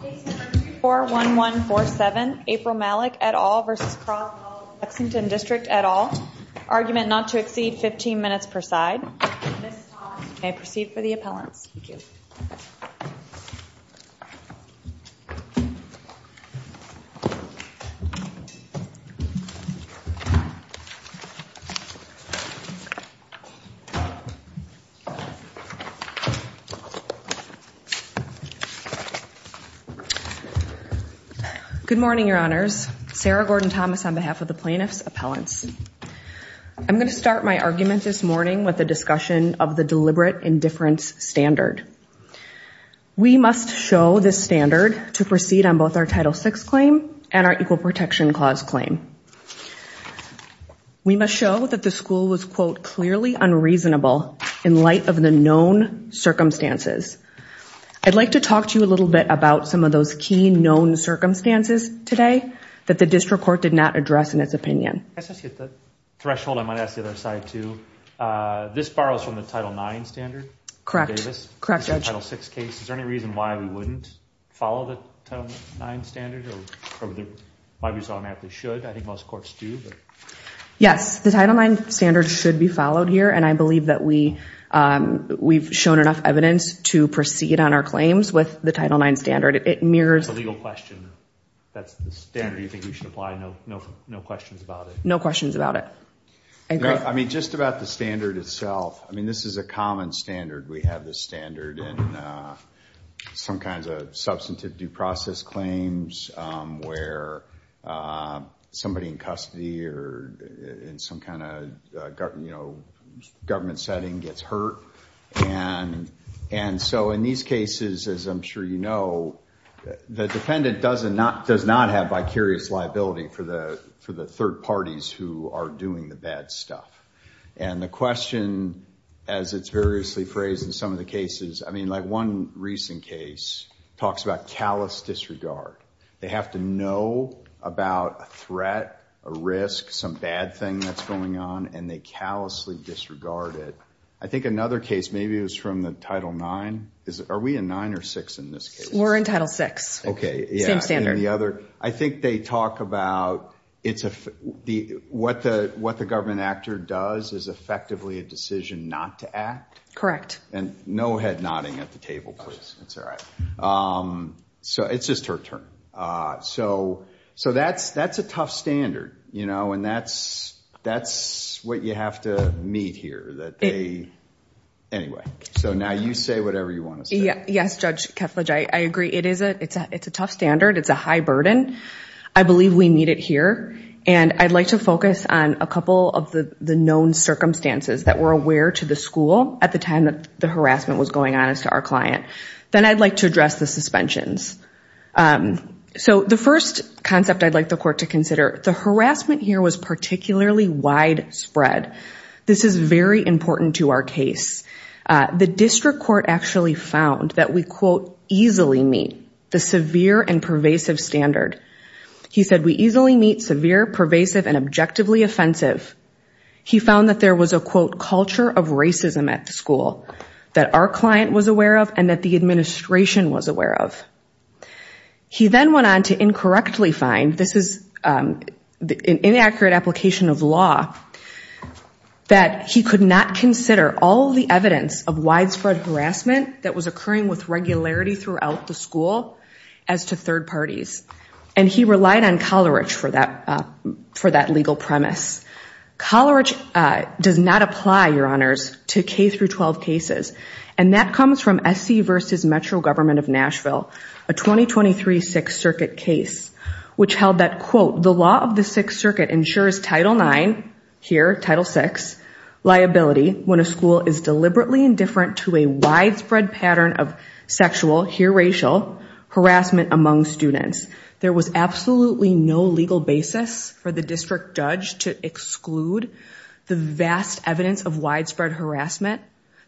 Case No. 341147, April Malick, et al. v. Croswell-Lexington District, et al. Argument not to exceed 15 minutes per side. You may proceed for the appellants. Good morning, Your Honors. Sarah Gordon Thomas on behalf of the plaintiffs' appellants. I'm going to start my argument this morning with the discussion of the deliberate indifference standard. We must show this standard to proceed on both our Title VI claim and our Equal Protection Clause claim. We must show that the school was, quote, clearly unreasonable in light of the known circumstances. I'd like to talk to you a little bit about some of those key known circumstances today that the district court did not address in its opinion. Can I just hit the threshold? I might ask the other side, too. This borrows from the Title IX standard. Correct. Correct, Judge. Is there any reason why we wouldn't follow the Title IX standard or why we automatically should? I think most courts do. Yes, the Title IX standard should be followed here, and I believe that we've shown enough evidence to proceed on our claims with the Title IX standard. It mirrors the legal question. That's the standard you think we should apply? No questions about it? No questions about it. I mean, just about the standard itself, I mean, this is a common standard. We have this standard in some kinds of substantive due process claims where somebody in custody or in some kind of government setting gets hurt. And so in these cases, as I'm sure you know, the defendant does not have vicarious liability for the third parties who are doing the bad stuff. And the question, as it's variously phrased in some of the cases, I mean, like one recent case talks about callous disregard. They have to know about a threat, a risk, some bad thing that's going on, and they callously disregard it. I think another case, maybe it was from the Title IX. Are we in IX or VI in this case? We're in Title VI. Same standard. I think they talk about what the government actor does is effectively a decision not to act. And no head nodding at the table, please. It's all right. So it's just her turn. So that's a tough standard, you know, and that's what you have to meet here. Anyway, so now you say whatever you want to say. Yes, Judge Ketledge, I agree. It's a tough standard. It's a high burden. I believe we meet it here. And I'd like to focus on a couple of the known circumstances that were aware to the school at the time that the harassment was going on as to our client. Then I'd like to address the suspensions. So the first concept I'd like the court to consider, the harassment here was particularly widespread. This is very important to our case. The district court actually found that we, quote, easily meet the severe and pervasive standard. He said we easily meet severe, pervasive, and objectively offensive. He found that there was a, quote, culture of racism at the school that our client was aware of and that the administration was aware of. He then went on to incorrectly find, this is an inaccurate application of law, that he could not consider all the evidence of widespread harassment that was occurring with regularity throughout the school as to third parties. And he relied on Coleridge for that legal premise. Coleridge does not apply, your honors, to K through 12 cases. And that comes from SC versus Metro Government of Nashville, a 2023 Sixth Circuit case, which held that, quote, the law of the Sixth Circuit ensures Title IX, here, Title VI, liability when a school is deliberately indifferent to a widespread pattern of sexual, here racial, harassment among students. There was absolutely no legal basis for the district judge to exclude the vast evidence of widespread harassment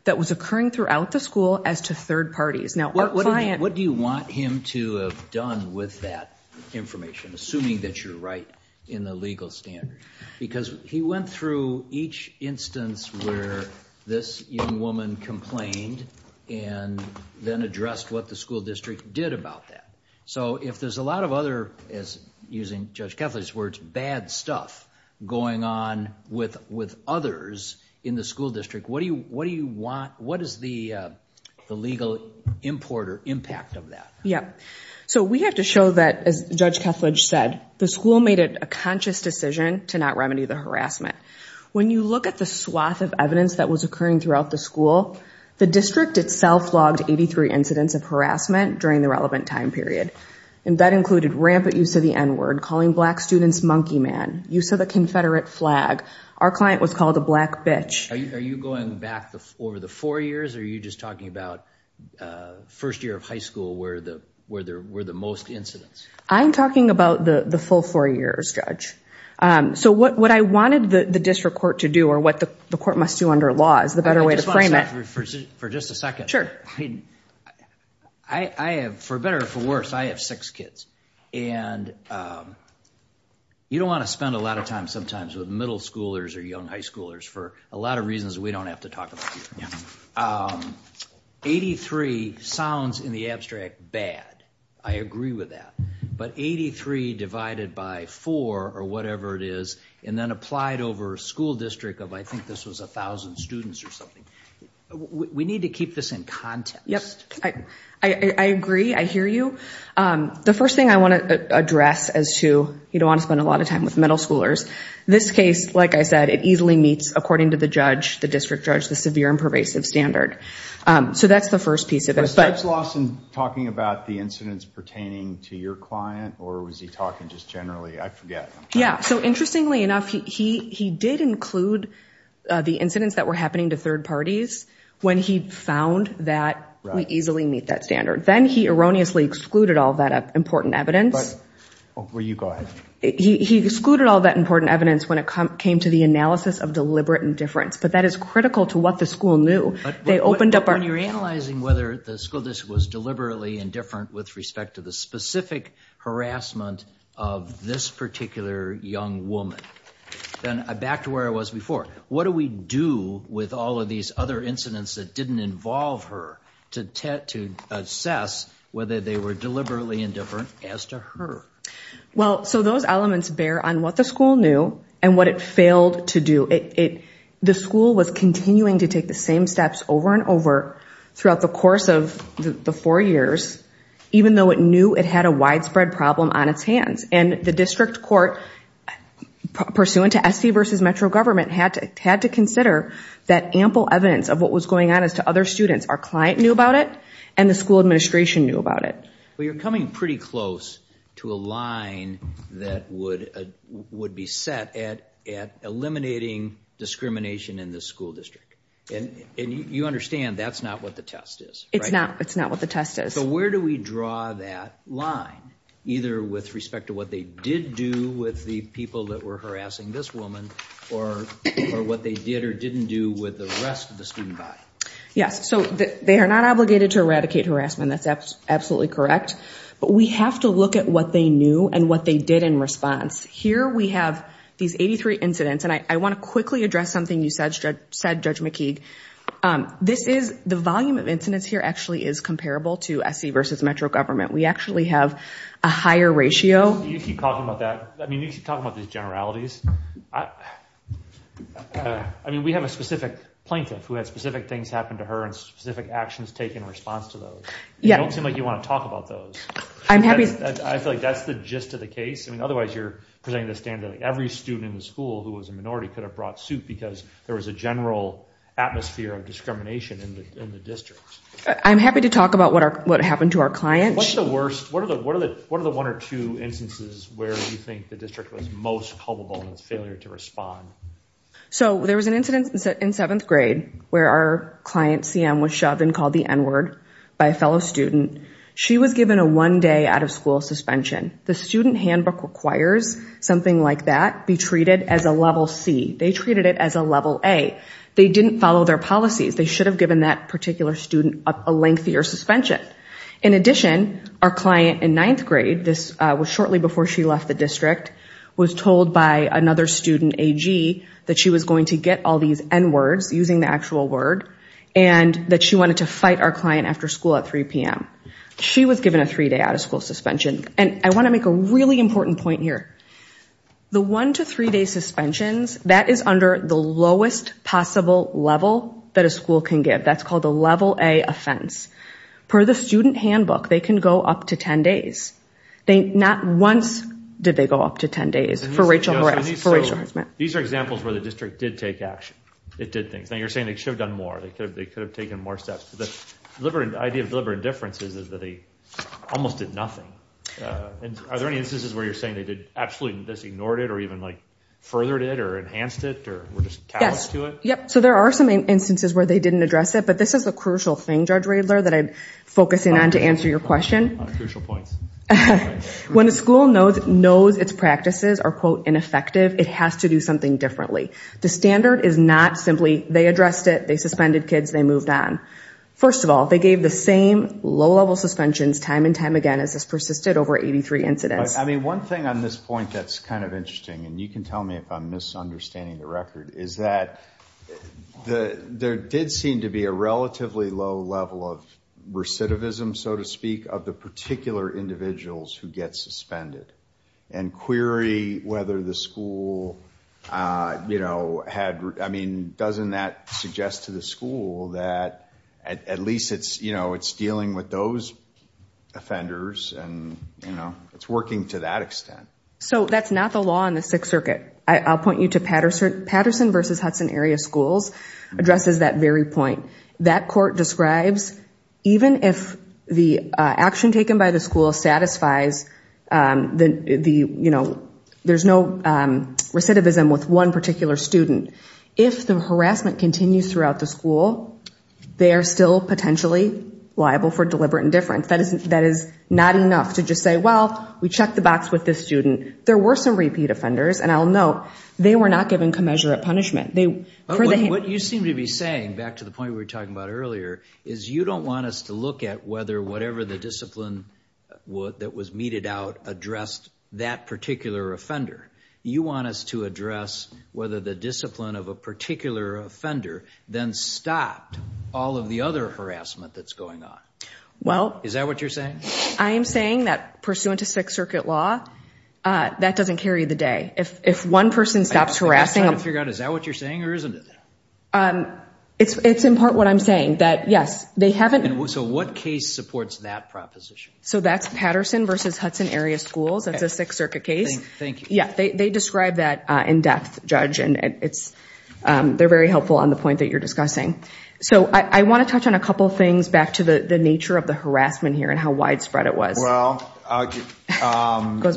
that was occurring throughout the school as to third parties. Now, our client... What do you want him to have done with that information, assuming that you're right in the legal standard? Because he went through each instance where this young woman complained and then addressed what the school district did about that. So if there's a lot of other, as using Judge Kethledge's words, bad stuff going on with others in the school district, what do you want... What is the legal import or impact of that? Yeah. So we have to show that, as Judge Kethledge said, the school made a conscious decision to not remedy the harassment. When you look at the swath of evidence that was occurring throughout the school, the district itself logged 83 incidents of harassment during the relevant time period. And that included rampant use of the N-word, calling black students monkey man, use of the confederate flag. Our client was called a black bitch. Are you going back over the four years, or are you just talking about first year of high school where there were the most incidents? I'm talking about the full four years, Judge. So what I wanted the district court to do or what the court must do under law is the better way to frame it. For just a second. I have, for better or for worse, I have six kids. And you don't want to spend a lot of time sometimes with middle schoolers or young high schoolers for a lot of reasons we don't have to talk about here. 83 sounds, in the abstract, bad. I agree with that. But 83 divided by four or whatever it is, and then applied over a school district of I think this was 1,000 students or something. We need to keep this in context. Yes, I agree. I hear you. The first thing I want to address as to you don't want to spend a lot of time with middle schoolers. This case, like I said, it easily meets, according to the judge, the district judge, the severe and pervasive standard. So that's the first piece of it. Was Judge Lawson talking about the incidents pertaining to your client or was he talking just generally? I forget. Yeah, so interestingly enough, he did include the incidents that were happening to third parties when he found that we easily meet that standard. Then he erroneously excluded all that important evidence. Well, you go ahead. He excluded all that important evidence when it came to the analysis of deliberate indifference. But that is critical to what the school knew. When you're analyzing whether the school district was deliberately indifferent with respect to the specific harassment of this particular young woman, then back to where I was before, what do we do with all of these other incidents that didn't involve her to assess whether they were deliberately indifferent as to her? Well, so those elements bear on what the school knew and what it failed to do. The school was continuing to take the same steps over and over throughout the course of the four years, even though it knew it had a widespread problem on its hands. And the district court, pursuant to SD versus metro government, had to consider that ample evidence of what was going on as to other students. Our client knew about it and the school administration knew about it. Well, you're coming pretty close to a line that would be set at eliminating discrimination in the school district. And you understand that's not what the test is, right? It's not what the test is. So where do we draw that line, either with respect to what they did do with the people that were harassing this woman, or what they did or didn't do with the rest of the student body? Yes, so they are not obligated to eradicate harassment. That's absolutely correct. But we have to look at what they knew and what they did in response. Here we have these 83 incidents, and I want to quickly address something you said, Judge McKeague. The volume of incidents here actually is comparable to SD versus metro government. We actually have a higher ratio. You keep talking about that. I mean, you keep talking about these generalities. I mean, we have a specific plaintiff who had specific things happen to her and specific actions taken in response to those. You don't seem like you want to talk about those. I feel like that's the gist of the case. I mean, otherwise you're presenting the standard that every student in the school who was a minority could have brought suit because there was a general atmosphere of discrimination in the district. I'm happy to talk about what happened to our client. What are the one or two instances where you think the district was most culpable in its failure to respond? So there was an incident in seventh grade where our client, CM, was shoved and called the N-word by a fellow student. She was given a one-day out-of-school suspension. The student handbook requires something like that be treated as a level C. They treated it as a level A. They didn't follow their policies. They should have given that particular student a lengthier suspension. In addition, our client in ninth grade, this was shortly before she left the district, was told by another student, AG, that she was going to get all these N-words using the actual word and that she wanted to fight our client after school at 3 p.m. She was given a three-day out-of-school suspension. And I want to make a really important point here. The one- to three-day suspensions, that is under the lowest possible level that a school can give. That's called a level A offense. Per the student handbook, they can go up to 10 days. Not once did they go up to 10 days for racial harassment. These are examples where the district did take action. It did things. Now you're saying they should have done more. They could have taken more steps. The idea of deliberate indifference is that they almost did nothing. Are there any instances where you're saying they absolutely ignored it or even furthered it or enhanced it or were just callous to it? Yes. So there are some instances where they didn't address it. But this is a crucial thing. I'm sorry, Judge Riedler, that I'm focusing on to answer your question. Crucial points. When a school knows its practices are, quote, ineffective, it has to do something differently. The standard is not simply they addressed it, they suspended kids, they moved on. First of all, they gave the same low-level suspensions time and time again as this persisted over 83 incidents. I mean, one thing on this point that's kind of interesting, and you can tell me if I'm misunderstanding the record, is that there did seem to be a relatively low level of recidivism, so to speak, of the particular individuals who get suspended. And query whether the school had, I mean, doesn't that suggest to the school that at least it's dealing with those offenders and it's working to that extent? So that's not the law in the Sixth Circuit. I'll point you to Patterson v. Hudson Area Schools addresses that very point. That court describes even if the action taken by the school satisfies the, you know, there's no recidivism with one particular student, if the harassment continues throughout the school, they are still potentially liable for deliberate indifference. That is not enough to just say, well, we checked the box with this student. There were some repeat offenders, and I'll note they were not given commensurate punishment. What you seem to be saying, back to the point we were talking about earlier, is you don't want us to look at whether whatever the discipline that was meted out addressed that particular offender. You want us to address whether the discipline of a particular offender then stopped all of the other harassment that's going on. Is that what you're saying? I am saying that pursuant to Sixth Circuit law, that doesn't carry the day. If one person stops harassing them. I'm trying to figure out, is that what you're saying or isn't it? It's in part what I'm saying, that, yes, they haven't. So what case supports that proposition? So that's Patterson v. Hudson Area Schools. That's a Sixth Circuit case. Thank you. Yeah, they describe that in depth, Judge, and they're very helpful on the point that you're discussing. So I want to touch on a couple things back to the nature of the harassment here and how widespread it was. Well, why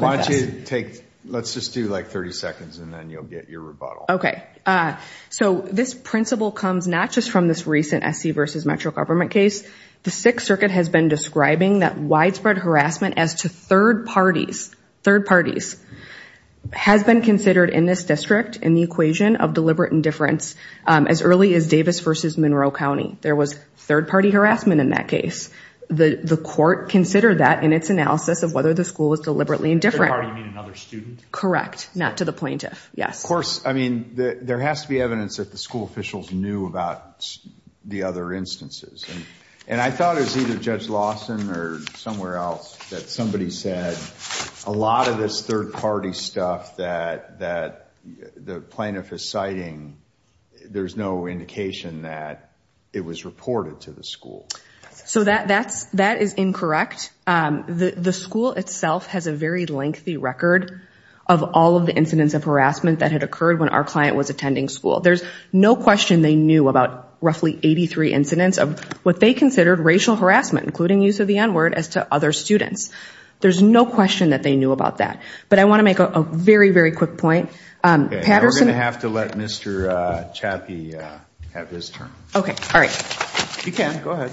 don't you take, let's just do like 30 seconds and then you'll get your rebuttal. Okay. So this principle comes not just from this recent SC v. Metro government case. The Sixth Circuit has been describing that widespread harassment as to third parties, third parties, has been considered in this district in the equation of deliberate indifference as early as Davis v. Monroe County. There was third-party harassment in that case. The court considered that in its analysis of whether the school was deliberately indifferent. Third party, you mean another student? Correct. Not to the plaintiff. Yes. Of course. I mean, there has to be evidence that the school officials knew about the other instances. And I thought it was either Judge Lawson or somewhere else that somebody said a lot of this third-party stuff that the plaintiff is citing, there's no indication that it was reported to the school. So that is incorrect. The school itself has a very lengthy record of all of the incidents of harassment that had occurred when our client was attending school. There's no question they knew about roughly 83 incidents of what they considered racial harassment, including use of the N-word, as to other students. There's no question that they knew about that. But I want to make a very, very quick point. Now we're going to have to let Mr. Chappie have his turn. Okay. All right. You can. Go ahead.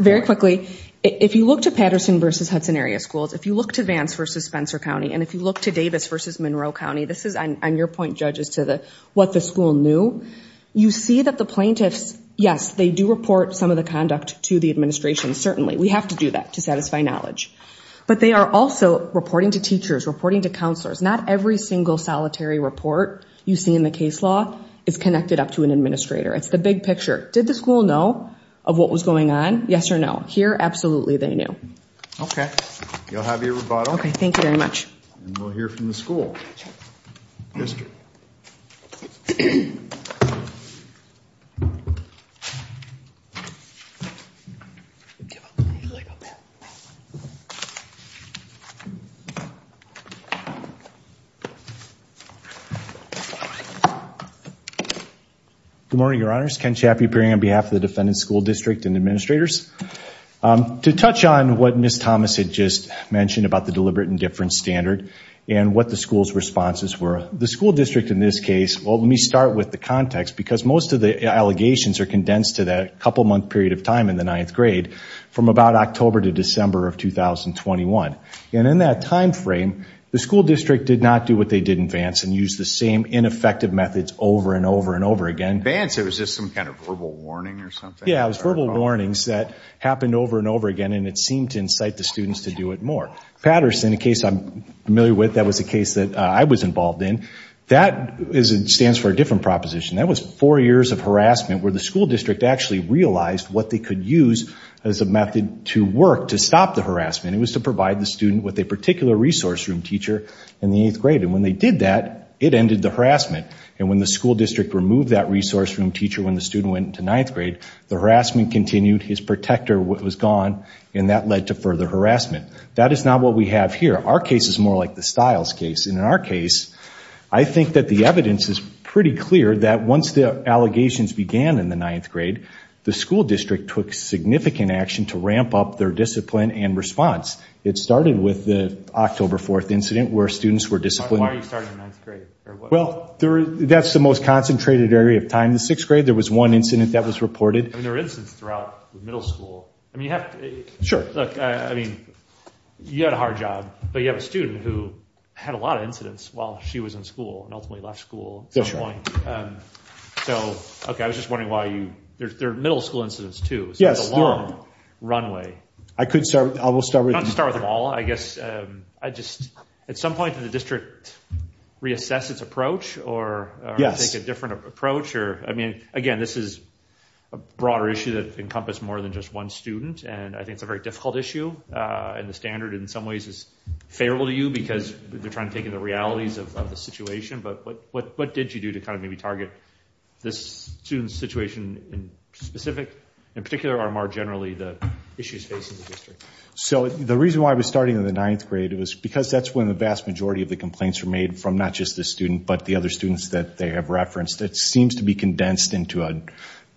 Very quickly. If you look to Patterson v. Hudson Area Schools, if you look to Vance v. Spencer County, and if you look to Davis v. Monroe County, this is, on your point, judges, to what the school knew, you see that the plaintiffs, yes, they do report some of the conduct to the administration, certainly. We have to do that to satisfy knowledge. But they are also reporting to teachers, reporting to counselors. Not every single solitary report you see in the case law is connected up to an administrator. It's the big picture. Did the school know of what was going on? Yes or no? Here, absolutely they knew. Okay. You'll have your rebuttal. Okay. Thank you very much. And we'll hear from the school. Sure. Mr. Good morning, Your Honors. Ken Chappie appearing on behalf of the defendant's school district and administrators. To touch on what Ms. Thomas had just mentioned about the deliberate indifference standard and what the school's responses were, the school district in this case, well, let me start with the context, because most of the allegations are condensed to that couple-month period of time in the ninth grade, from about October to December of 2021. And in that timeframe, the school district did not do what they did in Vance and used the same ineffective methods over and over and over again. In Vance, it was just some kind of verbal warning or something? Yes, it was verbal warnings that happened over and over again, and it seemed to incite the students to do it more. Patterson, a case I'm familiar with, that was a case that I was involved in, that stands for a different proposition. That was four years of harassment where the school district actually realized what they could use as a method to work to stop the harassment. It was to provide the student with a particular resource room teacher in the eighth grade. And when they did that, it ended the harassment. And when the school district removed that resource room teacher when the student went into ninth grade, the harassment continued, his protector was gone, and that led to further harassment. That is not what we have here. Our case is more like the Stiles case. In our case, I think that the evidence is pretty clear that once the allegations began in the ninth grade, the school district took significant action to ramp up their discipline and response. It started with the October 4th incident where students were disciplined. Why are you starting in ninth grade? Well, that's the most concentrated area of time. The sixth grade, there was one incident that was reported. I mean, there were incidents throughout middle school. Sure. Look, I mean, you had a hard job, but you have a student who had a lot of incidents while she was in school and ultimately left school at some point. So, okay, I was just wondering why you – there are middle school incidents, too. Yes. It's a long runway. I could start – we'll start with – Not to start with them all. I guess I just – at some point, did the district reassess its approach or take a different approach? I mean, again, this is a broader issue that encompassed more than just one student, and I think it's a very difficult issue, and the standard in some ways is favorable to you because they're trying to take in the realities of the situation. But what did you do to kind of maybe target this student's situation in specific, in particular or more generally, the issues facing the district? So the reason why I was starting in the ninth grade was because that's when the vast majority of the complaints were made from not just the student but the other students that they have referenced. It seems to be condensed into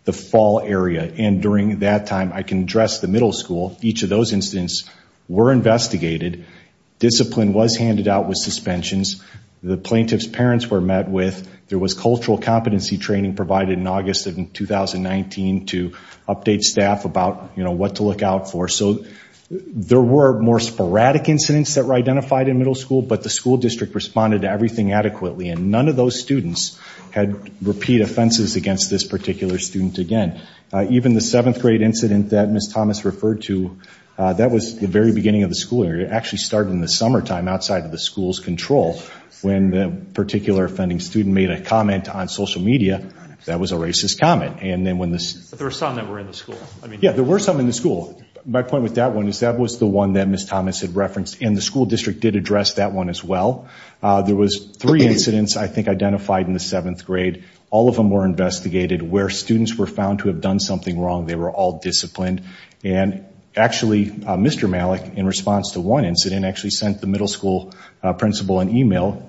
the fall area. And during that time, I can address the middle school. Each of those incidents were investigated. Discipline was handed out with suspensions. The plaintiff's parents were met with. There was cultural competency training provided in August of 2019 to update staff about, you know, what to look out for. So there were more sporadic incidents that were identified in middle school, but the school district responded to everything adequately, and none of those students had repeat offenses against this particular student again. Even the seventh grade incident that Ms. Thomas referred to, that was the very beginning of the school year. It actually started in the summertime outside of the school's control when the particular offending student made a comment on social media that was a racist comment. But there were some that were in the school. Yeah, there were some in the school. My point with that one is that was the one that Ms. Thomas had referenced, and the school district did address that one as well. There was three incidents, I think, identified in the seventh grade. All of them were investigated where students were found to have done something wrong. They were all disciplined. And actually, Mr. Malik, in response to one incident, actually sent the middle school principal an e-mail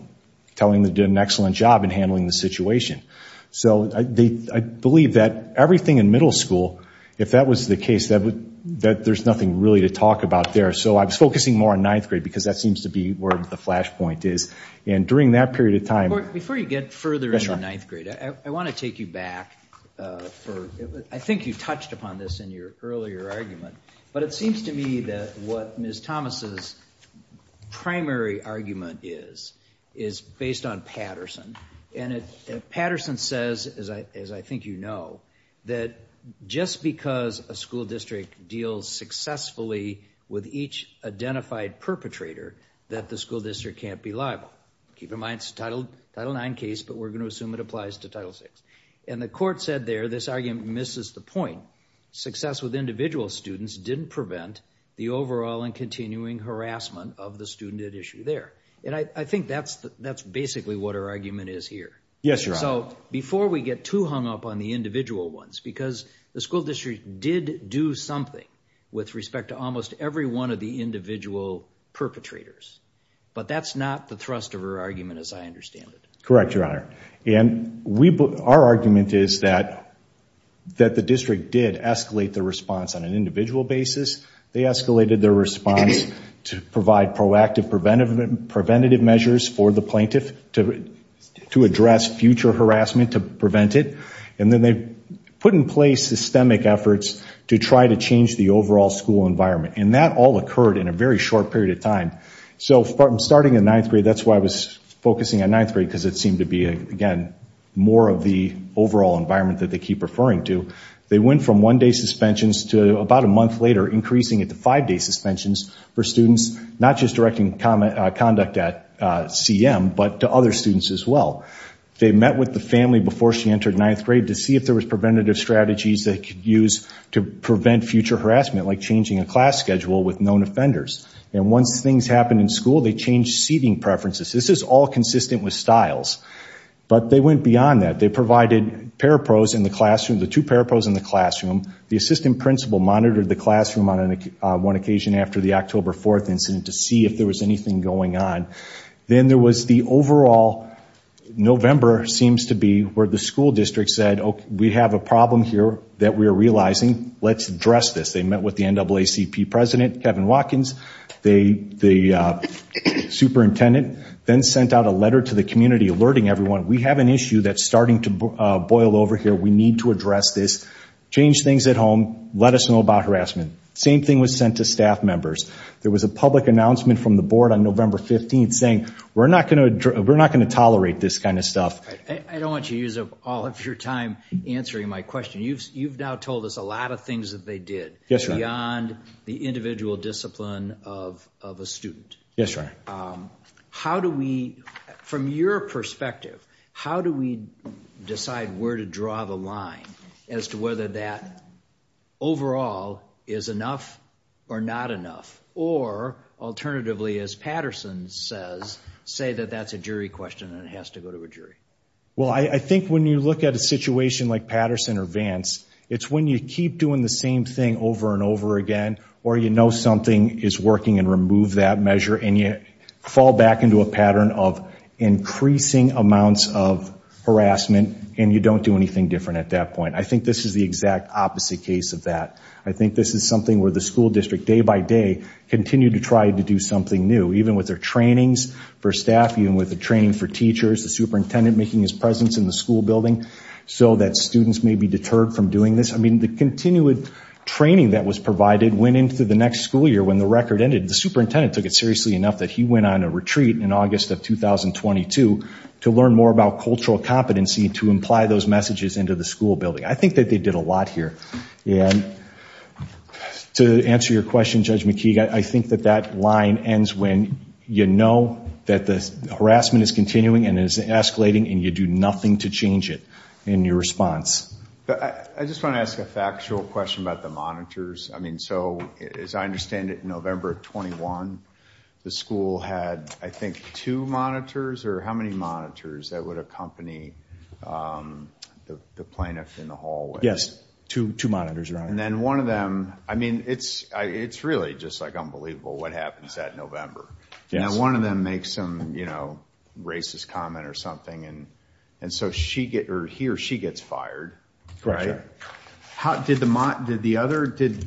telling them they did an excellent job in handling the situation. So I believe that everything in middle school, if that was the case, that there's nothing really to talk about there. So I was focusing more on ninth grade because that seems to be where the flashpoint is. And during that period of time— Before you get further into ninth grade, I want to take you back. I think you touched upon this in your earlier argument, but it seems to me that what Ms. Thomas's primary argument is, is based on Patterson. And Patterson says, as I think you know, that just because a school district deals successfully with each identified perpetrator, that the school district can't be liable. Keep in mind, it's a Title IX case, but we're going to assume it applies to Title VI. And the court said there, this argument misses the point. Success with individual students didn't prevent the overall and continuing harassment of the student at issue there. And I think that's basically what her argument is here. Yes, Your Honor. So before we get too hung up on the individual ones, because the school district did do something with respect to almost every one of the individual perpetrators, but that's not the thrust of her argument as I understand it. Correct, Your Honor. And our argument is that the district did escalate the response on an individual basis. They escalated their response to provide proactive preventative measures for the plaintiff to address future harassment, to prevent it. And then they put in place systemic efforts to try to change the overall school environment. And that all occurred in a very short period of time. So starting in ninth grade, that's why I was focusing on ninth grade, because it seemed to be, again, more of the overall environment that they keep referring to. They went from one-day suspensions to, about a month later, increasing it to five-day suspensions for students, not just directing conduct at CM, but to other students as well. They met with the family before she entered ninth grade to see if there was preventative strategies they could use to prevent future harassment, like changing a class schedule with known offenders. And once things happened in school, they changed seating preferences. This is all consistent with styles. But they went beyond that. They provided parapros in the classroom, the two parapros in the classroom. The assistant principal monitored the classroom on one occasion after the October 4th incident to see if there was anything going on. Then there was the overall November, seems to be, where the school district said, we have a problem here that we are realizing. Let's address this. They met with the NAACP president, Kevin Watkins. The superintendent then sent out a letter to the community alerting everyone, we have an issue that's starting to boil over here. We need to address this. Change things at home. Let us know about harassment. Same thing was sent to staff members. There was a public announcement from the board on November 15th saying, we're not going to tolerate this kind of stuff. I don't want you to use up all of your time answering my question. You've now told us a lot of things that they did beyond the individual discipline of a student. Yes, sir. How do we, from your perspective, how do we decide where to draw the line as to whether that overall is enough or not enough? Or alternatively, as Patterson says, say that that's a jury question and it has to go to a jury. Well, I think when you look at a situation like Patterson or Vance, it's when you keep doing the same thing over and over again or you know something is working and remove that measure and you fall back into a pattern of increasing amounts of harassment and you don't do anything different at that point. I think this is the exact opposite case of that. I think this is something where the school district, day by day, continued to try to do something new, even with their trainings for staff, even with the training for teachers, the superintendent making his presence in the school building so that students may be deterred from doing this. I mean, the continued training that was provided went into the next school year when the record ended. The superintendent took it seriously enough that he went on a retreat in August of 2022 to learn more about cultural competency to imply those messages into the school building. I think that they did a lot here. And to answer your question, Judge McKeague, I think that that line ends when you know that the harassment is continuing and is escalating and you do nothing to change it in your response. I just want to ask a factual question about the monitors. I mean, so as I understand it, November 21, the school had, I think, two monitors or how many monitors that would accompany the plaintiff in the hallway? Yes, two monitors, Your Honor. And then one of them, I mean, it's really just like unbelievable what happens that November. And then one of them makes some racist comment or something and so he or she gets fired. Did the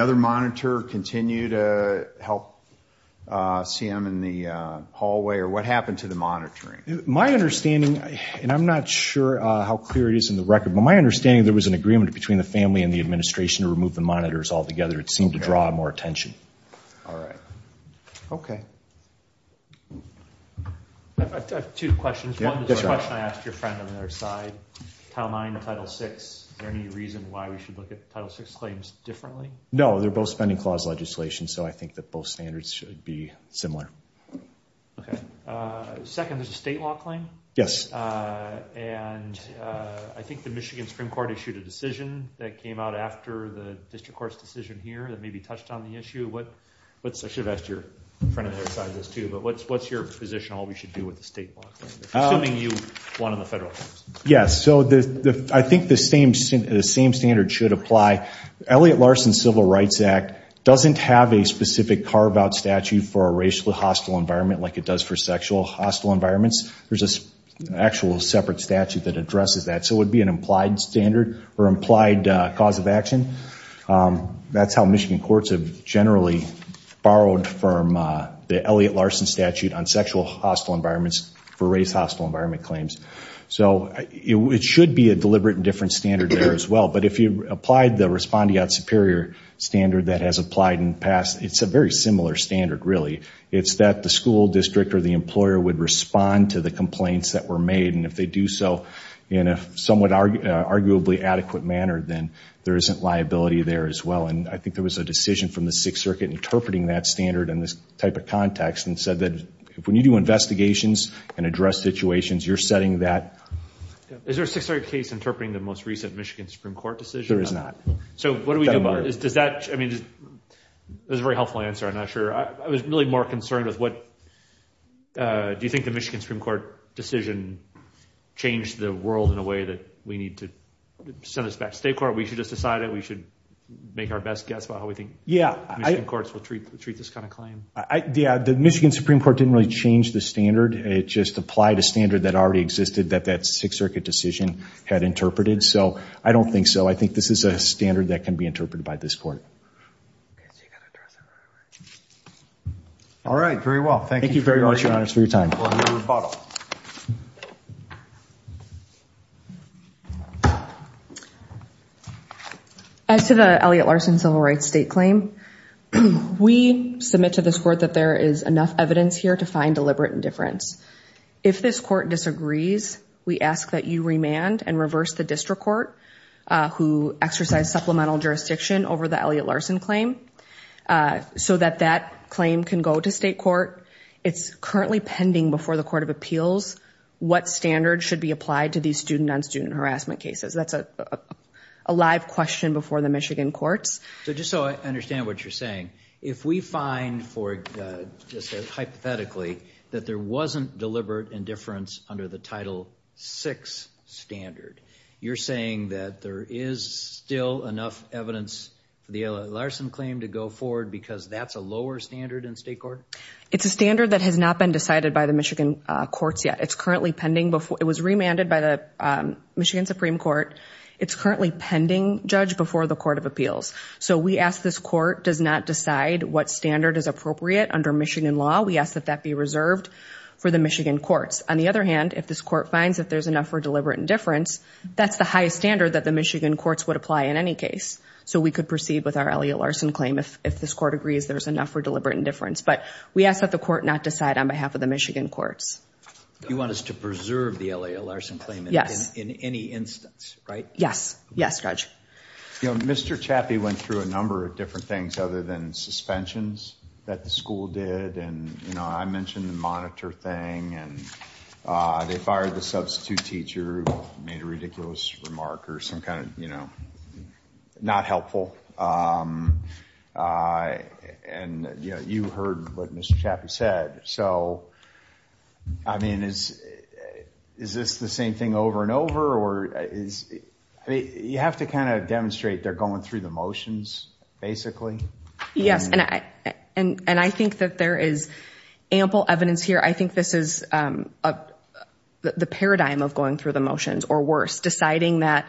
other monitor continue to help see him in the hallway or what happened to the monitoring? My understanding, and I'm not sure how clear it is in the record, but my understanding there was an agreement between the family and the administration to remove the monitors altogether. It seemed to draw more attention. All right. Okay. I have two questions. One is a question I asked your friend on the other side, Title IX, Title VI. Is there any reason why we should look at Title VI claims differently? No, they're both spending clause legislation, so I think that both standards should be similar. Okay. Second, there's a state law claim. Yes. And I think the Michigan Supreme Court issued a decision that came out after the district court's decision here that maybe touched on the issue. I should have asked your friend on the other side this too, but what's your position on what we should do with the state law claim, assuming you won on the federal claims? Yes. So I think the same standard should apply. Elliott-Larsen Civil Rights Act doesn't have a specific carve-out statute for a racially hostile environment like it does for sexual hostile environments. There's an actual separate statute that addresses that. So it would be an implied standard or implied cause of action. That's how Michigan courts have generally borrowed from the Elliott-Larsen statute on sexual hostile environments for race hostile environment claims. So it should be a deliberate and different standard there as well. But if you applied the respondeat superior standard that has applied in the past, it's a very similar standard really. It's that the school district or the employer would respond to the complaints that were made, and if they do so in a somewhat arguably adequate manner, then there isn't liability there as well. And I think there was a decision from the Sixth Circuit interpreting that standard in this type of context and said that when you do investigations and address situations, you're setting that. Is there a Sixth Circuit case interpreting the most recent Michigan Supreme Court decision? There is not. So what do we do about it? That was a very helpful answer. I'm not sure. I was really more concerned with what do you think the Michigan Supreme Court decision changed the world in a way that we need to send this back to state court? We should just decide it? We should make our best guess about how we think Michigan courts will treat this kind of claim? Yeah, the Michigan Supreme Court didn't really change the standard. It just applied a standard that already existed that that Sixth Circuit decision had interpreted. So I don't think so. I think this is a standard that can be interpreted by this court. All right. Very well. Thank you very much, Your Honor, for your time. We'll move to rebuttal. As to the Elliott Larson civil rights state claim, we submit to this court that there is enough evidence here to find deliberate indifference. If this court disagrees, we ask that you remand and reverse the district court who exercised supplemental jurisdiction over the Elliott Larson claim so that that claim can go to state court. It's currently pending before the Court of Appeals what standards should be applied to these student-on-student harassment cases. That's a live question before the Michigan courts. So just so I understand what you're saying, if we find hypothetically that there wasn't deliberate indifference under the Title VI standard, you're saying that there is still enough evidence for the Elliott Larson claim to go forward because that's a lower standard in state court? It's a standard that has not been decided by the Michigan courts yet. It was remanded by the Michigan Supreme Court. It's currently pending, Judge, before the Court of Appeals. So we ask this court does not decide what standard is appropriate under Michigan law. We ask that that be reserved for the Michigan courts. On the other hand, if this court finds that there's enough for deliberate indifference, that's the highest standard that the Michigan courts would apply in any case. So we could proceed with our Elliott Larson claim if this court agrees there's enough for deliberate indifference. But we ask that the court not decide on behalf of the Michigan courts. You want us to preserve the Elliott Larson claim in any instance, right? Yes. Yes, Judge. You know, Mr. Chappie went through a number of different things other than suspensions that the school did. And, you know, I mentioned the monitor thing, and they fired the substitute teacher who made a ridiculous remark or some kind of, you know, not helpful. And, you know, you heard what Mr. Chappie said. So, I mean, is this the same thing over and over? You have to kind of demonstrate they're going through the motions, basically. Yes, and I think that there is ample evidence here. I think this is the paradigm of going through the motions, or worse, deciding that,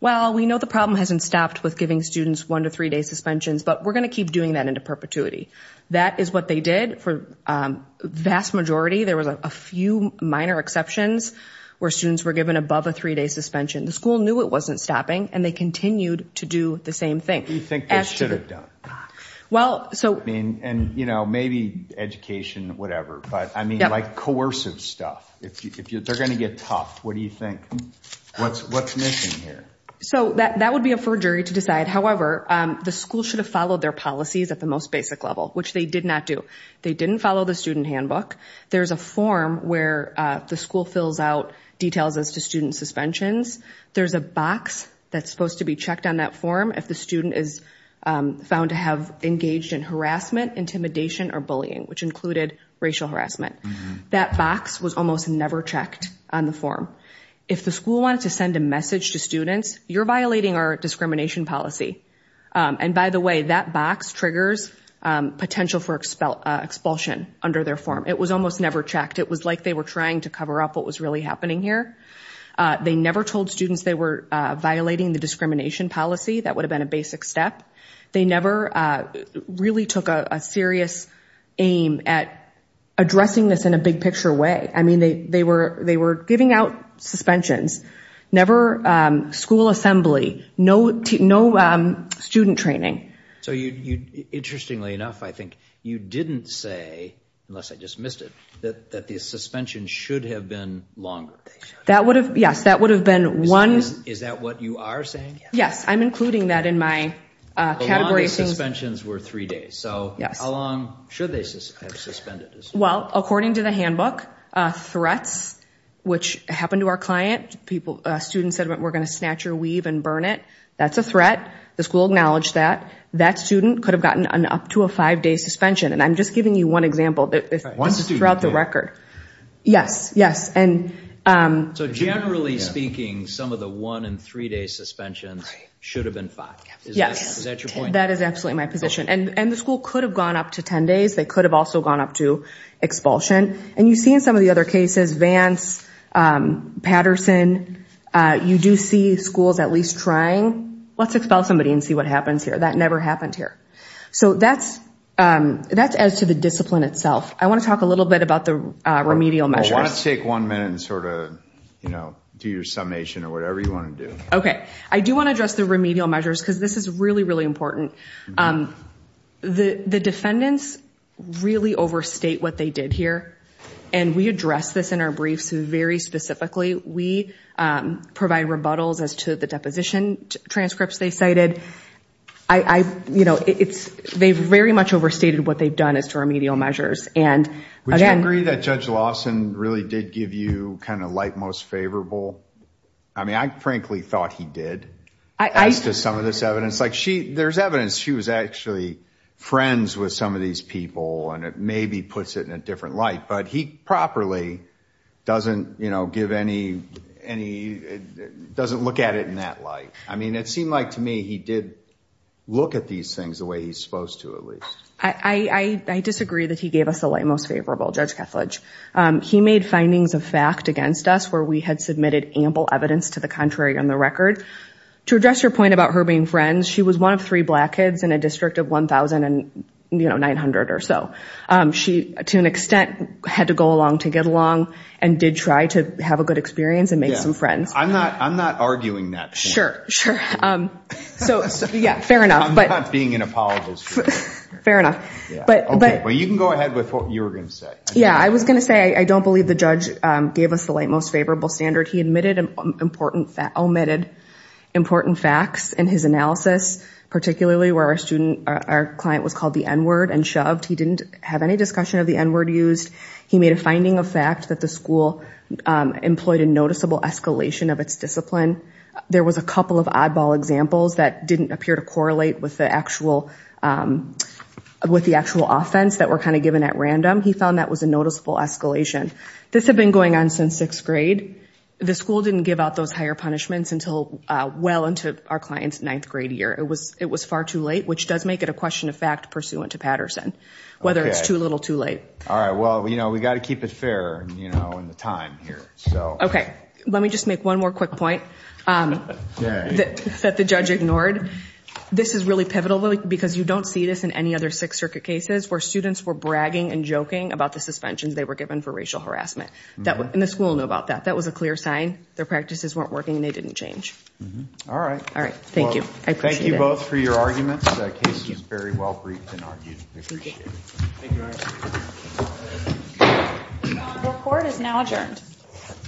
well, we know the problem hasn't stopped with giving students one- to three-day suspensions, but we're going to keep doing that into perpetuity. That is what they did for the vast majority. There was a few minor exceptions where students were given above a three-day suspension. The school knew it wasn't stopping, and they continued to do the same thing. What do you think they should have done? And, you know, maybe education, whatever. But, I mean, like, coercive stuff. If they're going to get tough, what do you think? What's missing here? So that would be up for a jury to decide. However, the school should have followed their policies at the most basic level, which they did not do. They didn't follow the student handbook. There's a form where the school fills out details as to student suspensions. There's a box that's supposed to be checked on that form if the student is found to have engaged in harassment, intimidation, or bullying, which included racial harassment. That box was almost never checked on the form. If the school wanted to send a message to students, you're violating our discrimination policy. And, by the way, that box triggers potential for expulsion under their form. It was almost never checked. It was like they were trying to cover up what was really happening here. They never told students they were violating the discrimination policy. That would have been a basic step. They never really took a serious aim at addressing this in a big-picture way. I mean, they were giving out suspensions. Never school assembly. No student training. So, interestingly enough, I think you didn't say, unless I just missed it, that the suspension should have been longer. Yes, that would have been one. Is that what you are saying? Yes, I'm including that in my category. A lot of the suspensions were three days. So how long should they have suspended? Well, according to the handbook, threats, which happened to our client. A student said, we're going to snatch your weave and burn it. That's a threat. The school acknowledged that. That student could have gotten up to a five-day suspension. And I'm just giving you one example throughout the record. Yes, yes. So generally speaking, some of the one- and three-day suspensions should have been five. Yes. Is that your point? That is absolutely my position. And the school could have gone up to ten days. They could have also gone up to expulsion. And you see in some of the other cases, Vance, Patterson, you do see schools at least trying, let's expel somebody and see what happens here. That never happened here. So that's as to the discipline itself. I want to talk a little bit about the remedial measures. Well, why don't you take one minute and sort of do your summation or whatever you want to do. Okay. I do want to address the remedial measures because this is really, really important. The defendants really overstate what they did here. And we address this in our briefs very specifically. We provide rebuttals as to the deposition transcripts they cited. They very much overstated what they've done as to remedial measures. Would you agree that Judge Lawson really did give you kind of like most favorable? I mean, I frankly thought he did as to some of this evidence. There's evidence she was actually friends with some of these people and it maybe puts it in a different light. But he properly doesn't give any, doesn't look at it in that light. I mean, it seemed like to me he did look at these things the way he's supposed to at least. I disagree that he gave us the light most favorable, Judge Kethledge. He made findings of fact against us where we had submitted ample evidence to the contrary on the record. To address your point about her being friends, she was one of three black kids in a district of 1,900 or so. She, to an extent, had to go along to get along and did try to have a good experience and make some friends. I'm not arguing that point. Sure, sure. So, yeah, fair enough. I'm not being an apologist here. Fair enough. But you can go ahead with what you were going to say. Yeah, I was going to say I don't believe the judge gave us the light most favorable standard. He omitted important facts in his analysis, particularly where our client was called the N-word and shoved. He didn't have any discussion of the N-word used. He made a finding of fact that the school employed a noticeable escalation of its discipline. There was a couple of oddball examples that didn't appear to correlate with the actual offense that were kind of given at random. He found that was a noticeable escalation. This had been going on since sixth grade. The school didn't give out those higher punishments until well into our client's ninth grade year. It was far too late, which does make it a question of fact pursuant to Patterson, whether it's too little too late. All right, well, you know, we've got to keep it fair in the time here. Okay, let me just make one more quick point that the judge ignored. This is really pivotal because you don't see this in any other Sixth Circuit cases where students were bragging and joking about the suspensions they were given for racial harassment. And the school knew about that. That was a clear sign their practices weren't working and they didn't change. All right. All right, thank you. I appreciate it. Thank you both for your arguments. The case was very well briefed and argued. I appreciate it. Thank you. The court is now adjourned.